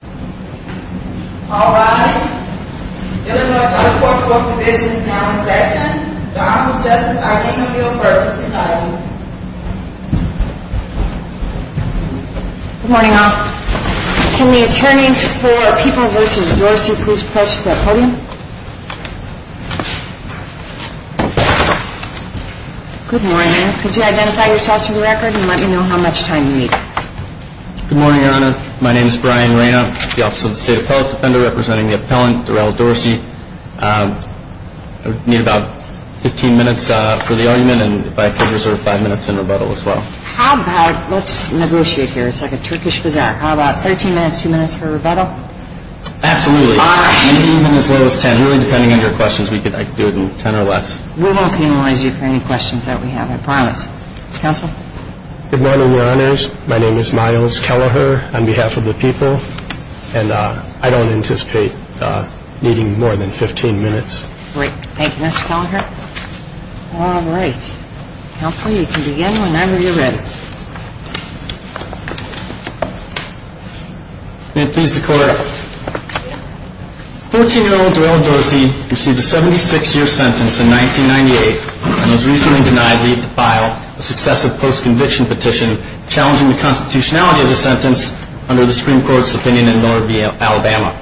Good morning, Your Honor. Could you identify yourself for the record and let me know how you are. I'm Ryan Reyna, the Office of the State Appellate Defender representing the appellant Darrell Dorsey. I need about 15 minutes for the argument and if I could reserve 5 minutes in rebuttal as well. How about, let's negotiate here, it's like a Turkish bazaar, how about 13 minutes, 2 minutes for rebuttal? Absolutely. Fine. Maybe even as little as 10, really depending on your questions, I could do it in 10 or less. We won't penalize you for any questions that we have, I promise. Counsel? Good morning, Your Honors. My name is Myles Kelleher on behalf of the people and I don't anticipate needing more than 15 minutes. Great. Thank you, Mr. Kelleher. All right. Counsel, you can begin whenever you're ready. May it please the Court, 14-year-old Darrell Dorsey received a 76-year sentence in 1998 and was recently denied leave to file a successive post-conviction petition challenging the constitutionality of the sentence under the Supreme Court's opinion in Miller v. Alabama.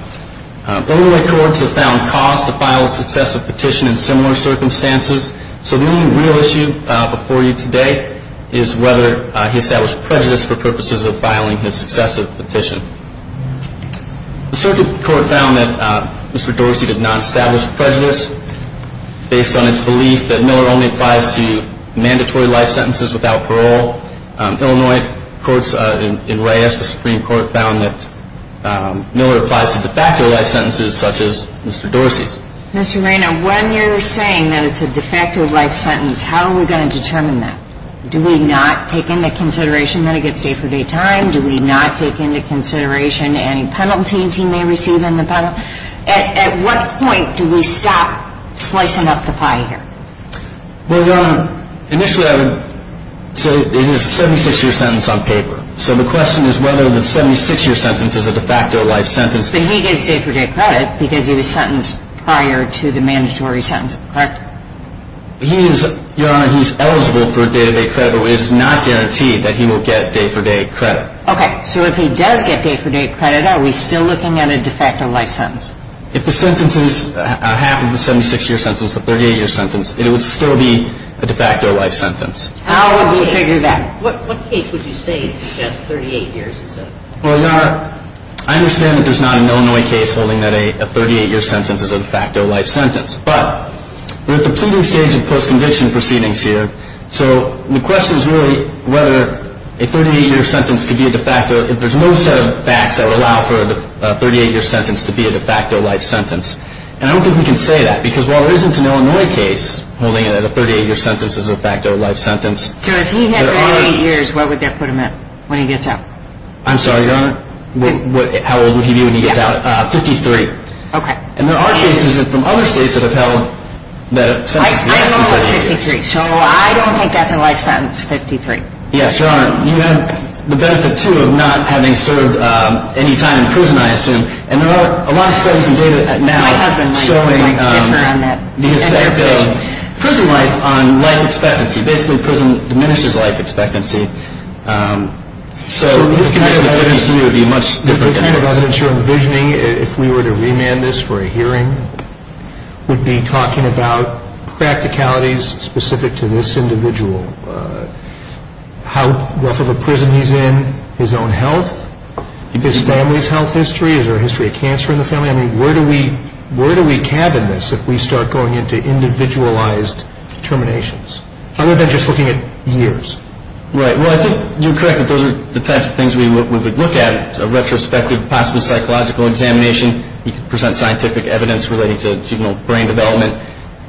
Illinois courts have found cause to file a successive petition in similar circumstances, so the only real issue before you today is whether he established prejudice for purposes of filing his successive petition. The circuit court found that Mr. Dorsey did not establish prejudice based on its belief that Miller only applies to mandatory life sentences without Mr. Dorsey's consent. The courts in Reyes, the Supreme Court, found that Miller applies to de facto life sentences such as Mr. Dorsey's. Mr. Reina, when you're saying that it's a de facto life sentence, how are we going to determine that? Do we not take into consideration that it gets day-for-day time? Do we not take into consideration any penalties he may receive in the penalty? At what point do we stop slicing up the pie here? Well, Your Honor, initially I would say it is a 76-year sentence on paper, so the question is whether the 76-year sentence is a de facto life sentence. But he gets day-for-day credit because he was sentenced prior to the mandatory sentence, correct? He is, Your Honor, he's eligible for day-to-day credit, but it is not guaranteed that he will get day-for-day credit. Okay, so if he does get day-for-day credit, are we still looking at a de facto life sentence? If the sentence is half of a 76-year sentence, a 38-year sentence, it would still be a de facto life sentence. How would we figure that? What case would you say is a 38-year sentence? Well, Your Honor, I understand that there's not an Illinois case holding that a 38-year sentence is a de facto life sentence, but we're at the pleading stage of post-conviction proceedings here, so the question is really whether a 38-year sentence could be a de facto, if there's no set of facts that would allow for a 38-year sentence to be a de facto life sentence. And I don't think we can say that, because while there isn't an Illinois case holding it at a 38-year sentence as a de facto life sentence, there are... So if he had 38 years, what would that put him at when he gets out? I'm sorry, Your Honor? How old would he be when he gets out? Fifty-three. Okay. And there are cases from other states that have held that a sentence is a de facto life sentence. I'm almost 53, so I don't think that's a life sentence, 53. Yes, Your Honor, you have the benefit, too, of not having served any time in prison, I mean, you're showing the effect of prison life on life expectancy. Basically, prison diminishes life expectancy. So his connection to prison would be a much different case. The kind of evidence you're envisioning, if we were to remand this for a hearing, would be talking about practicalities specific to this individual. How rough of a prison he's in, his own health, his family's health history, is there a history of cancer in the family? Where do we cabin this if we start going into individualized terminations, other than just looking at years? Right. Well, I think you're correct that those are the types of things we would look at. A retrospective, possible psychological examination, you could present scientific evidence relating to juvenile brain development.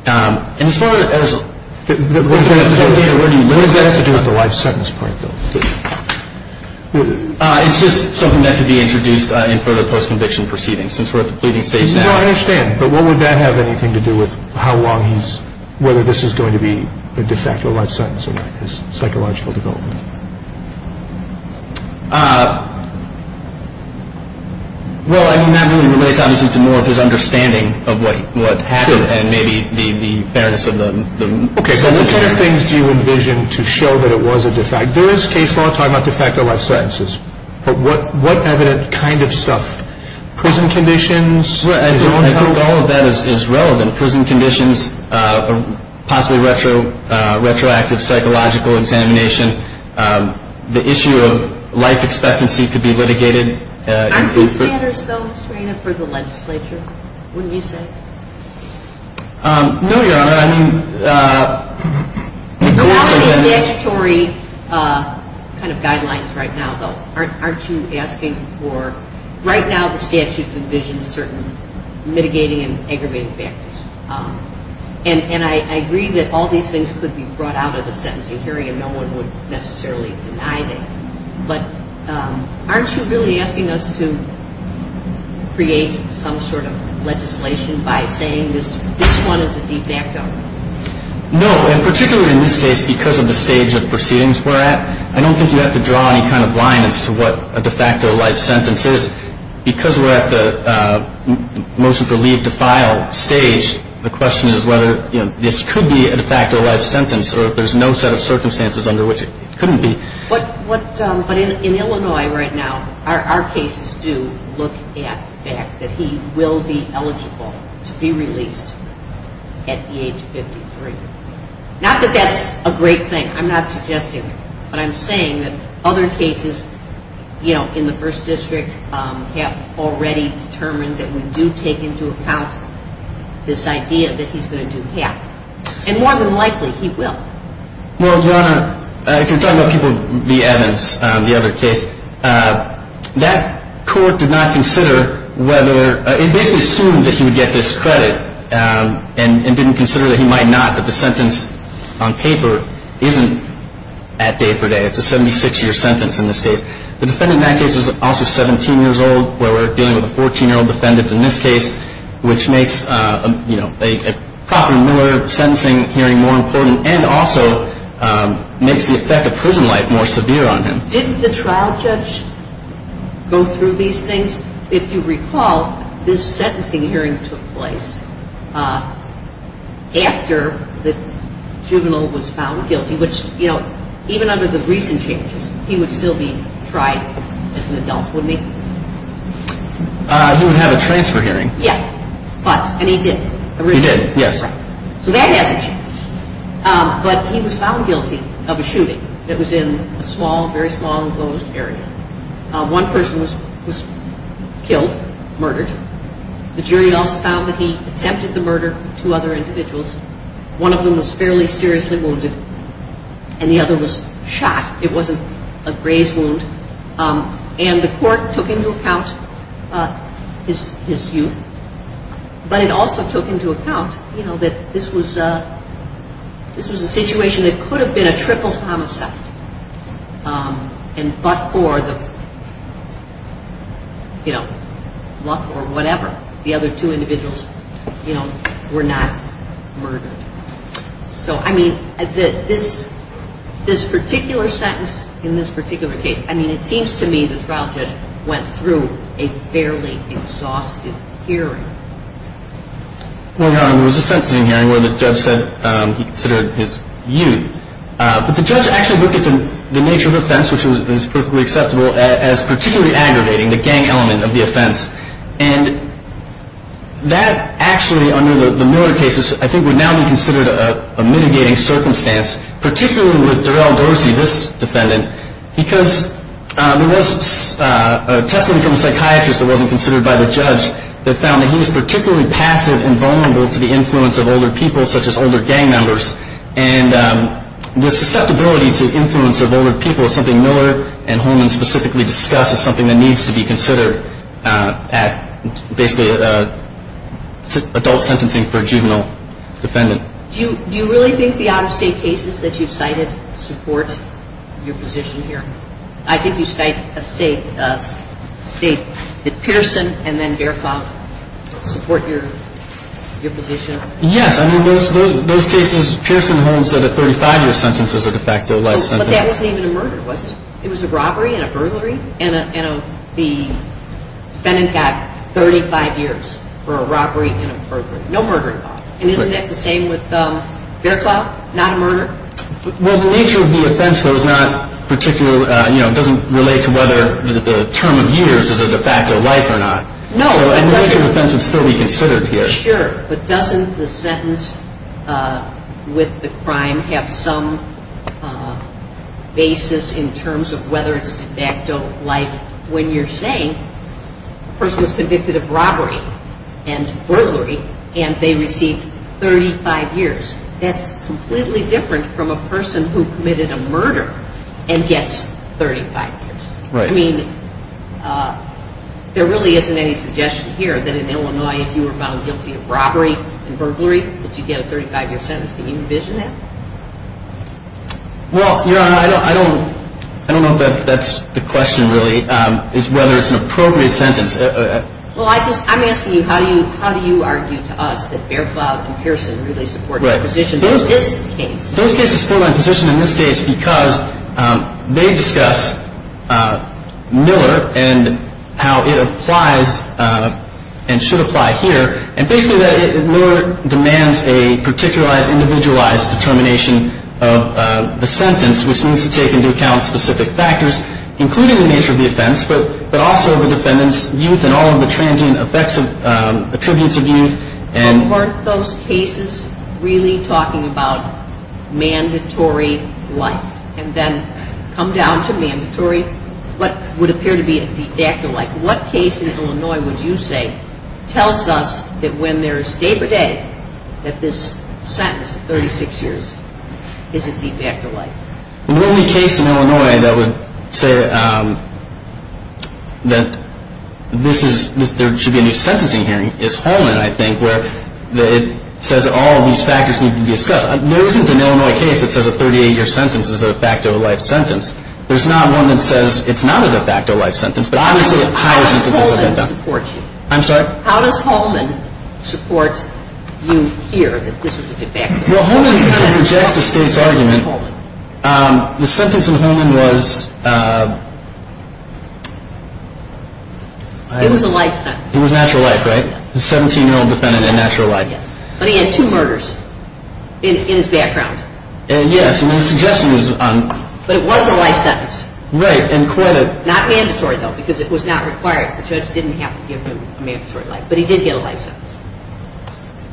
And as far as... What does that have to do with the life sentence part, though? It's just something that could be introduced in further post-conviction proceedings, since we're at the pleading stage now. No, I understand. But what would that have anything to do with how long he's... Whether this is going to be a de facto life sentence or not, his psychological development? Well, I mean, that really relates obviously to more of his understanding of what happened, and maybe the fairness of the sentence. Okay, so what kind of things do you envision to show that it was a de facto? There is case law talking about de facto life sentences. But what evident kind of stuff? Prison conditions? I think all of that is relevant. Prison conditions, possibly retroactive psychological examination. The issue of life expectancy could be litigated. Aren't these matters, though, Mr. Reina, for the legislature, wouldn't you say? No, Your Honor, I mean... There are also these statutory kind of guidelines right now, though. Aren't you asking for... Right now, the statutes envision certain mitigating and aggravating factors. And I agree that all these things could be brought out of the sentencing hearing, and no one would necessarily deny that. But aren't you really asking us to create some sort of legislation by saying this one is a de facto? No, and particularly in this case, because of the stage of proceedings we're at, I don't think you have to draw any kind of line as to what a de facto life sentence is. Because we're at the motion for leave to file stage, the question is whether this could be a de facto life sentence or if there's no set of circumstances under which it couldn't be. But in Illinois right now, our cases do look at the fact that he will be eligible to be released at the age of 53. Not that that's a great thing. I'm not suggesting it. But I'm saying that other cases, you know, in the First District have already determined that we do take into account this idea that he's going to do half. And more than likely he will. Well, Your Honor, if you're talking about people, V. Evans, the other case, that court did not consider whether, it basically assumed that he would get this credit and didn't consider that he might not, that the sentence on paper isn't at day for day. It's a 76-year sentence in this case. The defendant in that case was also 17 years old, where we're dealing with a 14-year-old defendant in this case, which makes, you know, a proper minor sentencing hearing more important and also makes the effect of prison life more important. If you recall, this sentencing hearing took place after the juvenile was found guilty, which, you know, even under the recent changes, he would still be tried as an adult, wouldn't he? He would have a transfer hearing. Yeah. But, and he did. He did, yes. So that hasn't changed. But he was found guilty of a shooting that was in a small, very small, enclosed area. One person was killed, murdered. The jury also found that he attempted the murder of two other individuals, one of whom was fairly seriously wounded and the other was shot. It wasn't a grazed wound. And the court took into account his youth, but it also took into account, you know, that this was a situation that could have been a triple homicide. And but for the, you know, luck or whatever, the other two individuals, you know, were not murdered. So, I mean, this particular sentence in this particular case, I mean, it seems to me the trial judge went through a fairly exhaustive hearing. Well, Your Honor, there was a sentencing hearing where the judge said he considered his youth. But the judge actually looked at the nature of the offense, which was perfectly acceptable, as particularly aggravating, the gang element of the offense. And that actually, under the Miller cases, I think would now be considered a mitigating circumstance, particularly with Darrell Dorsey, this defendant, because there was a testimony from a psychiatrist that wasn't particularly passive and vulnerable to the influence of older people, such as older gang members. And the susceptibility to influence of older people is something Miller and Holman specifically discuss as something that needs to be considered at basically adult sentencing for a juvenile defendant. Do you really think the out-of-state cases that you've cited support your position here? I think you state that Pierson and then Bertholdt support your position. Yes. I mean, those cases, Pierson holds that a 35-year sentence is a de facto life sentence. But that wasn't even a murder, was it? It was a robbery and a burglary? And the defendant got 35 years for a robbery and a burglary. No murder involved. And isn't that the same nature of the offense, though, is not particularly, you know, it doesn't relate to whether the term of years is a de facto life or not. And the nature of the offense would still be considered here. Sure. But doesn't the sentence with the crime have some basis in terms of whether it's de facto life when you're saying the person was convicted of robbery and burglary and they received 35 years? That's completely different from a person who committed a murder and gets 35 years. I mean, there really isn't any suggestion here that in Illinois if you were found guilty of robbery and burglary that you get a 35-year sentence. Can you envision that? Well, Your Honor, I don't know if that's the question, really, is whether it's an appropriate sentence. Well, I just, I'm asking you, how do you argue to us that Faircloud and Pearson really support the position in this case? Those cases support my position in this case because they discuss Miller and how it applies and should apply here. And basically, Miller demands a particularized, individualized determination of the sentence, which needs to take into account specific factors, including the nature of the offense, but also the defendant's youth and all of the transient effects and attributes of youth. But weren't those cases really talking about mandatory life and then come down to mandatory, what would appear to be a de facto life? What case in Illinois would you say tells us that when there's a day-for-day that this sentence of 36 years is a de facto life? The only case in Illinois that would say that this is, there should be a new sentencing hearing is Holman, I think, where it says all of these factors need to be discussed. There isn't an Illinois case that says a 38-year sentence is a de facto life sentence. There's not one that says it's not a de facto life sentence. How does Holman support you? I'm sorry? How does Holman support you here that this is a de facto life sentence? Well, Holman rejects the state's argument. The sentence in Holman was... It was a life sentence. It was natural life, right? A 17-year-old defendant in natural life. But he had two murders in his background. But it was a life sentence. Not mandatory, though, because it was not required. The judge didn't have to give him a mandatory life. But he did get a life sentence.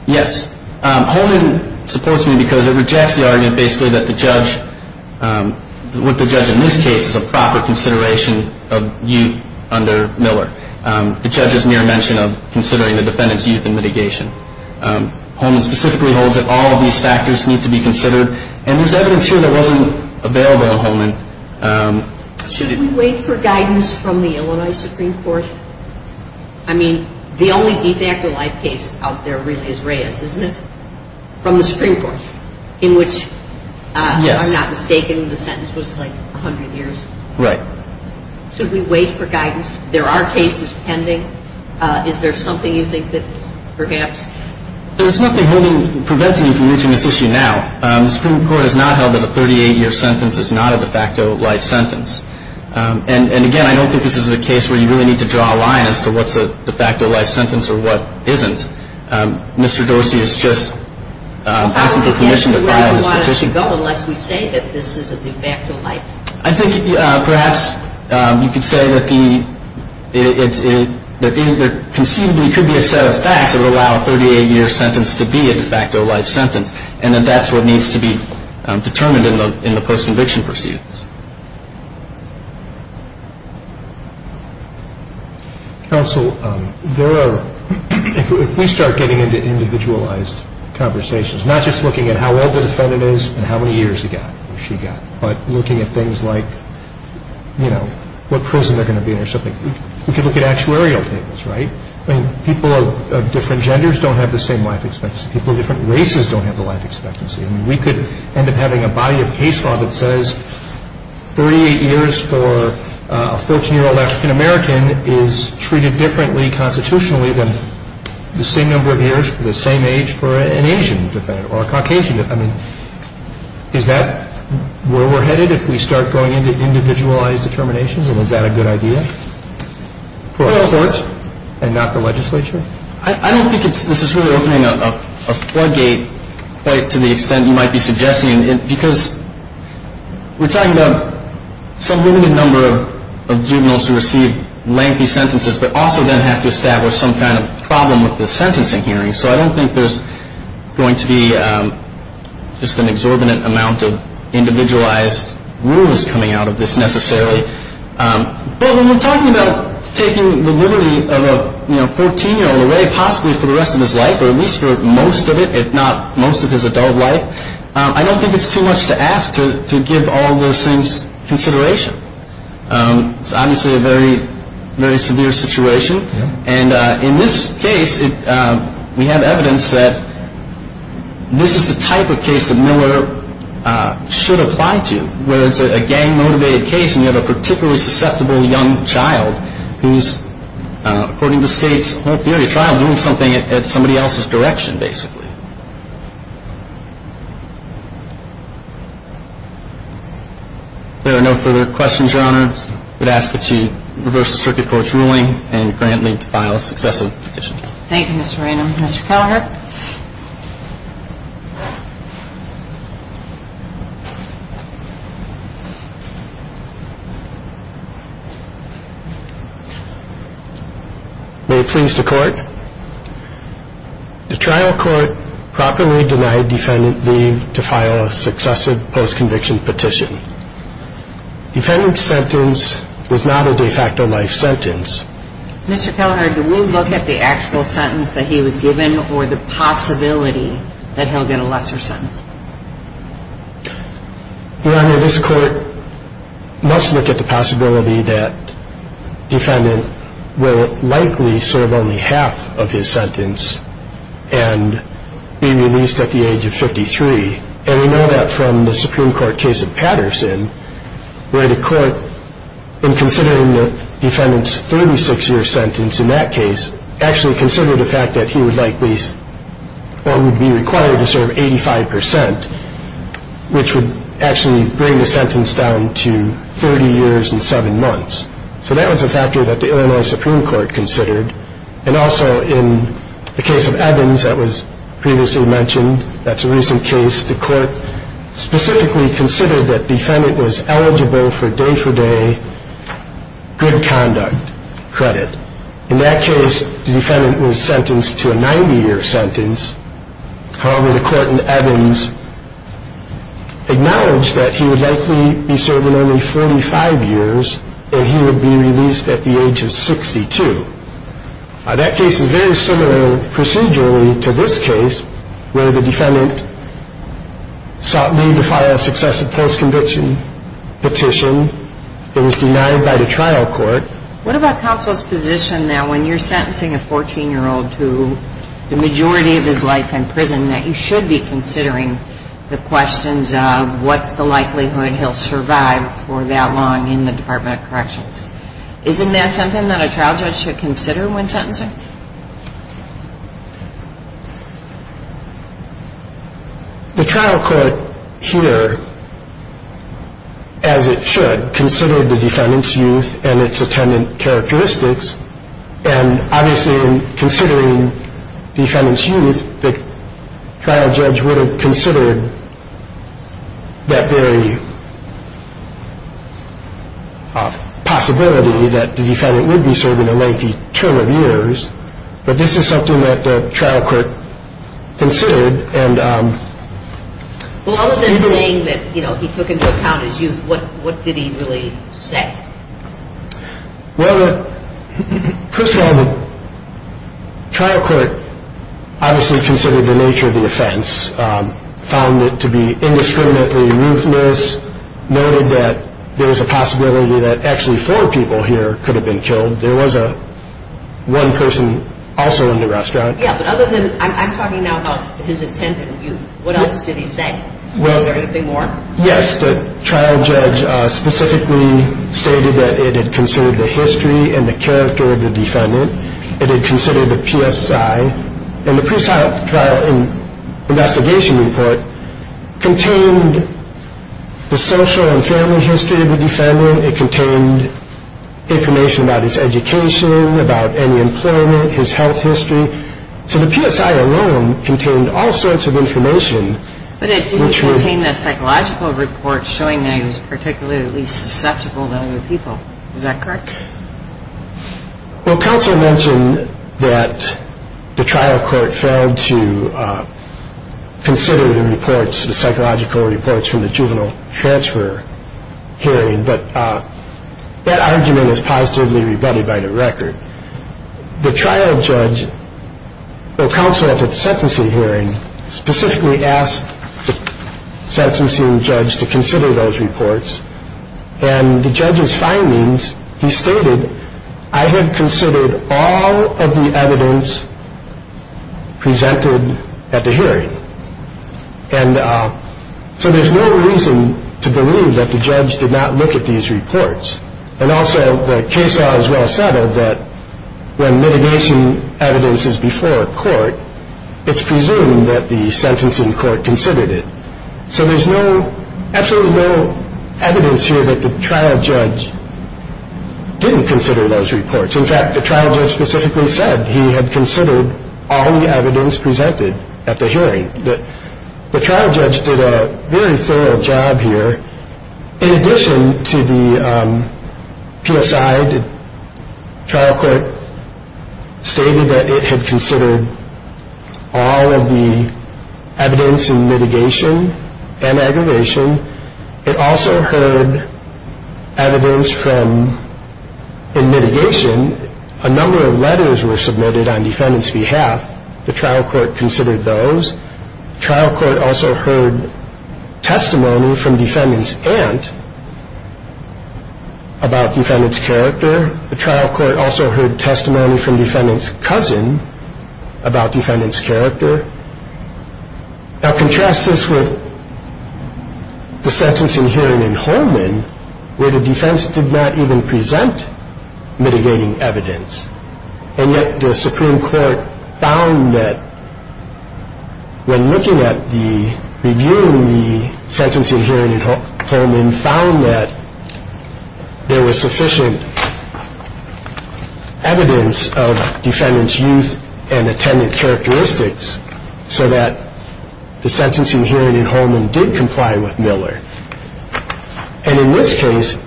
Yes. Holman supports me because it rejects the argument basically that the judge, with the judge in this case, is a proper consideration of youth under Miller. The judge is mere mention of considering the defendant's youth in mitigation. Holman specifically holds that all of these factors need to be considered. And there's evidence here that wasn't available in Holman. Should we wait for guidance from the Illinois Supreme Court? I mean, the only de facto life case out there really is Reyes, isn't it? From the Supreme Court, in which, if I'm not mistaken, the sentence was like 100 years. Right. Should we wait for guidance? There are cases pending. Is there something you think that perhaps... There's nothing preventing you from reaching this issue now. The Supreme Court has not held that a 38-year sentence is not a de facto life sentence. And, again, I don't think this is a case where you really need to draw a line as to what's a de facto life sentence or what isn't. Mr. Dorsey is just asking for permission to file his petition. Unless we say that this is a de facto life sentence. I think perhaps you could say that there conceivably could be a set of facts that would allow a 38-year sentence to be a de facto life sentence and that that's what needs to be determined in the post-conviction proceedings. Counsel, if we start getting into individualized conversations, not just looking at how old the defendant is and how many years he got or she got, but looking at things like, you know, what prison they're going to be in or something, we could look at actuarial tables, right? I mean, people of different genders don't have the same life expectancy. People of different races don't have the life expectancy. I mean, we could end up having a body of case law that says 38 years for a 14-year-old African-American is treated differently constitutionally than the same number of years, the same age for an Asian defendant or a Caucasian defendant. Is that where we're headed if we start going into individualized determinations, and is that a good idea for a court and not the legislature? I don't think this is really opening a floodgate quite to the extent you might be suggesting because we're talking about some limited number of juveniles who receive lengthy sentences but also then have to establish some kind of problem with the sentencing hearing. So I don't think there's going to be just an exorbitant amount of individualized rules coming out of this necessarily. But when we're talking about taking the liberty of a 14-year-old away, possibly for the rest of his life or at least for most of it, if not most of his adult life, I don't think it's too much to ask to give all those things consideration. It's obviously a very, very severe situation. And in this case, we have evidence that this is the type of case that Miller should apply to, whether it's a gang-motivated case and you have a particularly susceptible young child who's, according to State's whole theory of trials, doing something in somebody else's direction, basically. If there are no further questions, Your Honor, I would ask that you reverse the circuit court's ruling and grant me to file a successive petition. Thank you, Mr. Ranum. Mr. Kallagher? May it please the Court. The trial court properly denied defendant leave to file a successive post-conviction petition. Defendant's sentence was not a de facto life sentence. Mr. Kallagher, do we look at the actual sentence that he was given or the possibility that he'll get a lesser sentence? Your Honor, this Court must look at the possibility that defendant will likely serve only half of his sentence and be released at the age of 53. And we know that from the Supreme Court case of Patterson, where the Court, in considering the defendant's 36-year sentence in that case, actually considered the fact that he would likely be required to serve 85%, which would actually bring the sentence down to 30 years and 7 months. So that was a factor that the Illinois Supreme Court considered. And also in the case of Evans that was previously mentioned, that's a recent case, the Court specifically considered that defendant was eligible for day-for-day good conduct credit. In that case, the defendant was sentenced to a 90-year sentence. However, the Court in Evans acknowledged that he would likely be serving only 45 years and he would be released at the age of 62. That case is very similar procedurally to this case, where the defendant sought leave to file a successive post-conviction petition. It was denied by the trial court. What about counsel's position that when you're sentencing a 14-year-old to the majority of his life in prison that you should be considering the questions of what's the likelihood he'll survive for that long in the Department of Corrections? Isn't that something that a trial judge should consider when sentencing? The trial court here, as it should, considered the defendant's youth and its attendant characteristics and obviously in considering the defendant's youth, the trial judge would have considered that very possibility that the defendant would be serving a lengthy term of years, but this is something that the trial court considered. Well, other than saying that he took into account his youth, what did he really say? Well, first of all, the trial court obviously considered the nature of the offense, found it to be indiscriminately ruthless, noted that there was a possibility that actually four people here could have been killed. There was one person also in the restaurant. Yeah, but other than I'm talking now about his attendant youth, what else did he say? Is there anything more? Yes, the trial judge specifically stated that it had considered the history and the character of the defendant. It had considered the PSI, and the pre-trial investigation report contained the social and family history of the defendant. It contained information about his education, about any employment, his health history. So the PSI alone contained all sorts of information. But it didn't contain the psychological report showing that he was particularly susceptible to other people. Is that correct? Well, counsel mentioned that the trial court failed to consider the reports, the psychological reports from the juvenile transfer hearing, but that argument is positively rebutted by the record. The trial judge, well, counsel at the sentencing hearing specifically asked the sentencing judge to consider those reports, and the judge's findings, he stated, I had considered all of the evidence presented at the hearing. And so there's no reason to believe that the judge did not look at these reports. And also the case law is well settled that when litigation evidence is before a court, it's presumed that the sentencing court considered it. So there's absolutely no evidence here that the trial judge didn't consider those reports. In fact, the trial judge specifically said he had considered all the evidence presented at the hearing. The trial judge did a very thorough job here. In addition to the PSI, the trial court stated that it had considered all of the evidence in mitigation and aggravation. It also heard evidence from, in mitigation, a number of letters were submitted on defendant's behalf. The trial court considered those. The trial court also heard testimony from defendant's aunt about defendant's character. The trial court also heard testimony from defendant's cousin about defendant's character. Now contrast this with the sentencing hearing in Holman where the defense did not even present mitigating evidence. And yet the Supreme Court found that when looking at the, reviewing the sentencing hearing in Holman, found that there was sufficient evidence of defendant's youth and attendant characteristics so that the sentencing hearing in Holman did comply with Miller. And in this case,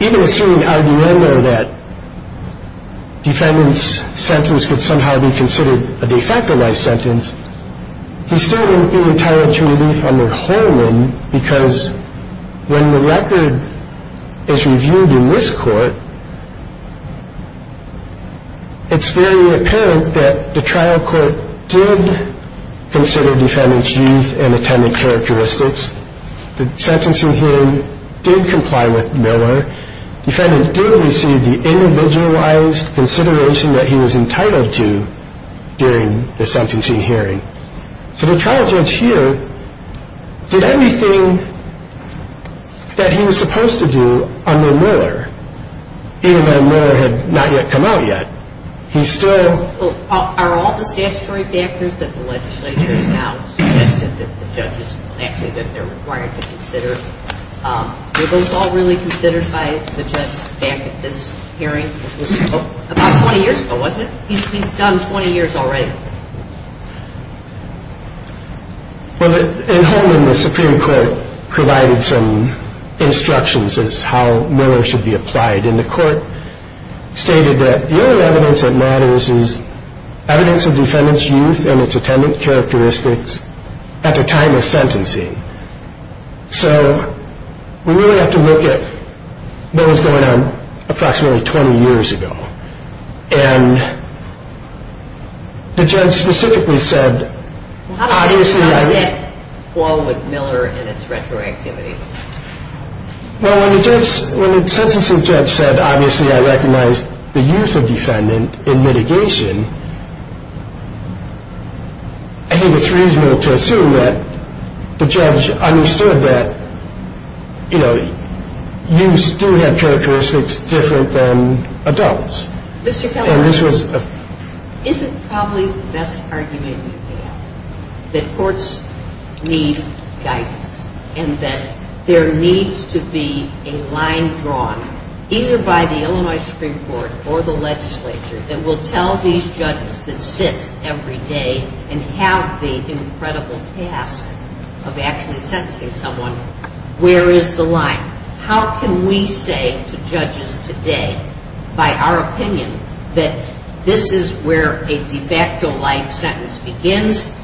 even assuming argument or that defendant's sentence could somehow be considered a de facto life sentence, he still wouldn't be entitled to relief under Holman because when the record is reviewed in this court, it's very apparent that the trial court did consider defendant's youth and attendant characteristics. The sentencing hearing did comply with Miller. Defendant did receive the individualized consideration that he was entitled to during the sentencing hearing. So the trial court here did everything that he was supposed to do under Miller, even though Miller had not yet come out yet. He still... Well, in Holman, the Supreme Court provided some instructions as to how Miller should be applied. And the court stated that the only evidence that matters is evidence of defendant's youth and its attendant characteristics at the time of sentencing. So we really have to look at what was going on approximately 20 years ago. And the judge specifically said, Well, how is that along with Miller and its retroactivity? Well, when the sentencing judge said, obviously I recognize the youth of defendant in mitigation, I think it's reasonable to assume that the judge understood that, you know, youths do have characteristics different than adults. Mr. Kelly, isn't probably the best argument you can have that courts need guidance and that there needs to be a line drawn either by the Illinois Supreme Court or the legislature that will tell these judges that sit every day and have the incredible task of actually sentencing someone, where is the line? How can we say to judges today, by our opinion, that this is where a de facto life sentence begins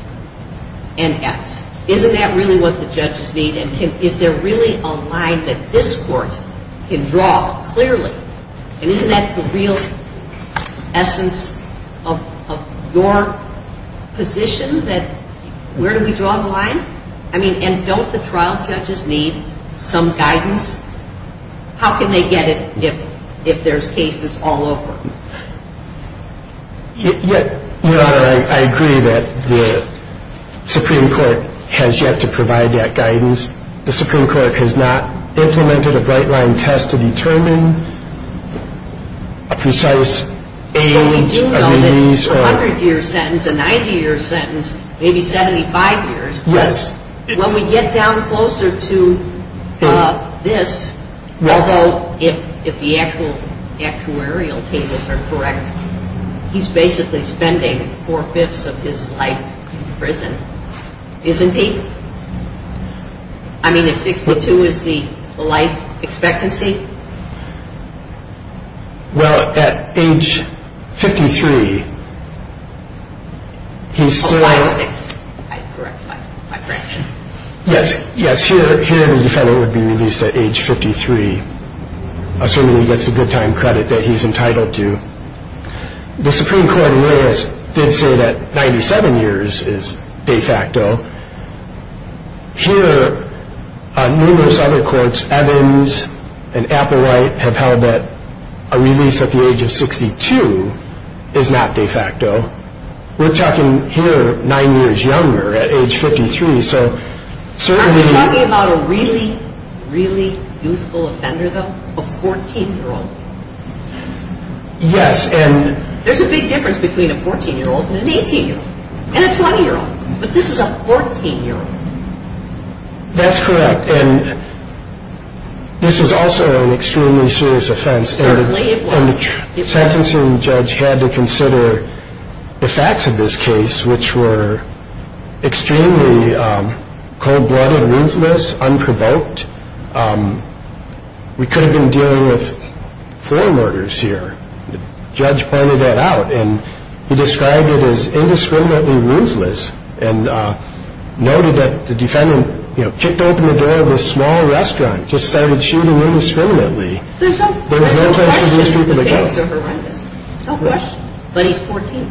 and ends? Isn't that really what the judges need? And is there really a line that this court can draw clearly? And isn't that the real essence of your position, that where do we draw the line? I mean, and don't the trial judges need some guidance? How can they get it if there's cases all over? Your Honor, I agree that the Supreme Court has yet to provide that guidance. The Supreme Court has not implemented a bright line test to determine a precise age of release. But we do know that for a 100-year sentence, a 90-year sentence, maybe 75 years, when we get down closer to this, although if the actuarial tables are correct, he's basically spending four-fifths of his life in prison, isn't he? I mean, if 62 is the life expectancy? Well, at age 53, he's still... Yes, here the defendant would be released at age 53, assuming he gets a good time credit that he's entitled to. The Supreme Court in Williams did say that 97 years is de facto. Here, numerous other courts, Evans and Applewhite, have held that a release at the age of 62 is not de facto. We're talking here nine years younger, at age 53, so... I'm talking about a really, really youthful offender, though, a 14-year-old. Yes, and... There's a big difference between a 14-year-old and an 18-year-old, and a 20-year-old, but this is a 14-year-old. That's correct, and this was also an extremely serious offense. Certainly it was. And the sentencing judge had to consider the facts of this case, which were extremely cold-blooded, ruthless, unprovoked. We could have been dealing with four murders here. The judge pointed that out, and he described it as indiscriminately ruthless, and noted that the defendant kicked open the door of this small restaurant, just started shooting indiscriminately. There's no question that the facts are horrendous, no question, but he's 14.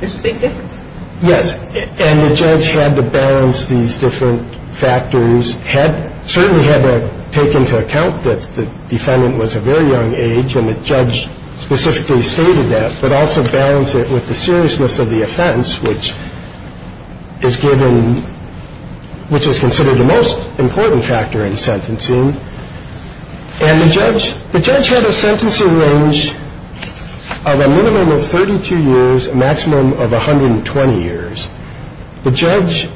There's a big difference. Yes, and the judge had to balance these different factors, certainly had to take into account that the defendant was a very young age, and the judge specifically stated that, but also balanced it with the seriousness of the offense, which is given, which is considered the most important factor in sentencing, and the judge had a sentencing range of a minimum of 32 years, a maximum of 120 years. The judge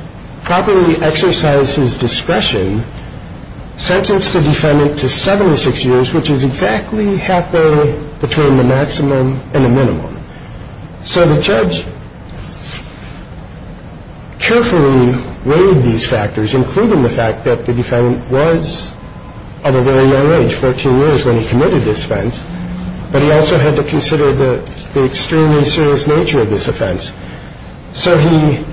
properly exercised his discretion, sentenced the defendant to 76 years, which is exactly halfway between the maximum and the minimum. So the judge carefully weighed these factors, including the fact that the defendant was of a very young age, 14 years when he committed this offense, but he also had to consider the extremely serious nature of this offense. So he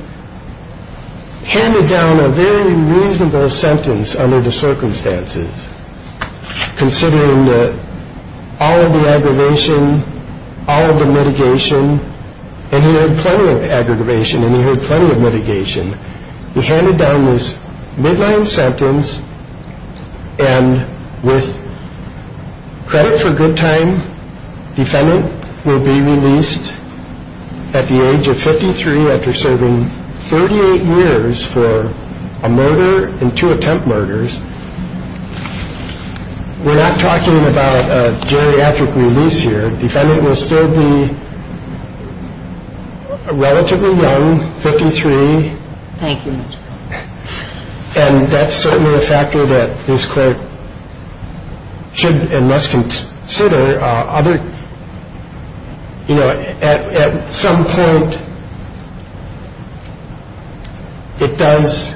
handed down a very reasonable sentence under the circumstances, considering all of the aggravation, all of the mitigation, and he had plenty of aggravation and he had plenty of mitigation. He handed down this midline sentence, and with credit for good time, defendant will be released at the age of 53 after serving 38 years for a murder and two attempt murders. We're not talking about a geriatric release here. Defendant will still be relatively young, 53. And that's certainly a factor that this court should and must consider. Other, you know, at some point, it does,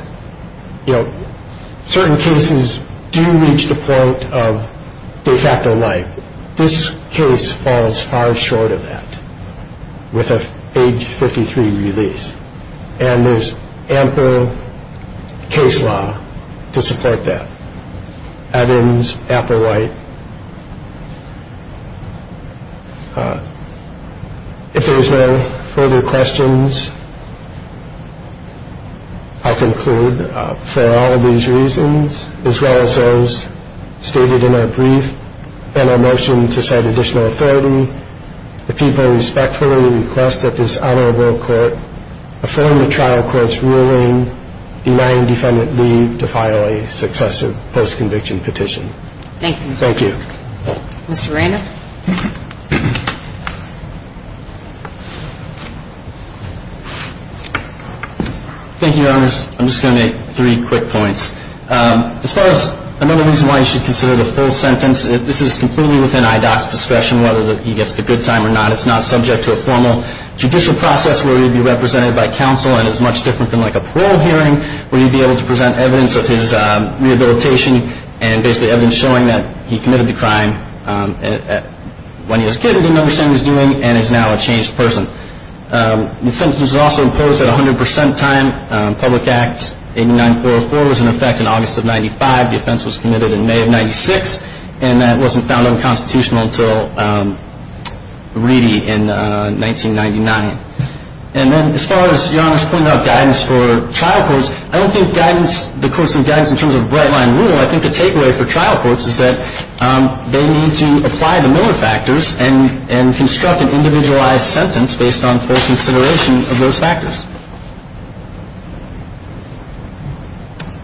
you know, certain cases do reach the point of de facto life. This case falls far short of that with an age 53 release, and there's ample case law to support that. Evans, Applewhite. If there's no further questions, I'll conclude for all of these reasons, as well as those stated in our brief and our motion to set additional authority, the people respectfully request that this honorable court affirm the trial court's ruling denying defendant leave to file a successive post-conviction petition. Thank you. Thank you, Your Honors. I'm just going to make three quick points. As far as another reason why you should consider the full sentence, this is completely within IDOC's discretion whether he gets the good time or not. It's not subject to a formal judicial process where he would be represented by counsel, and it's much different than like a parole hearing where you'd be able to present evidence of his rehabilitation and basically evidence showing that he committed the crime when he was a kid and didn't understand what he was doing and is now a changed person. The sentence was also imposed at 100 percent time. Public Act 894.4 was in effect in August of 95. The offense was committed in May of 96, and that wasn't found unconstitutional until Reedy in 1999. And then as far as Your Honors pointing out guidance for trial courts, I don't think the courts need guidance in terms of a bright-line rule. I think the takeaway for trial courts is that they need to apply the Miller factors and construct an individualized sentence based on full consideration of those factors.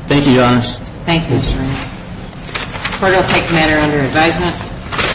Thank you, Your Honors. Thank you, Your Honor. Court will take the matter under advisement.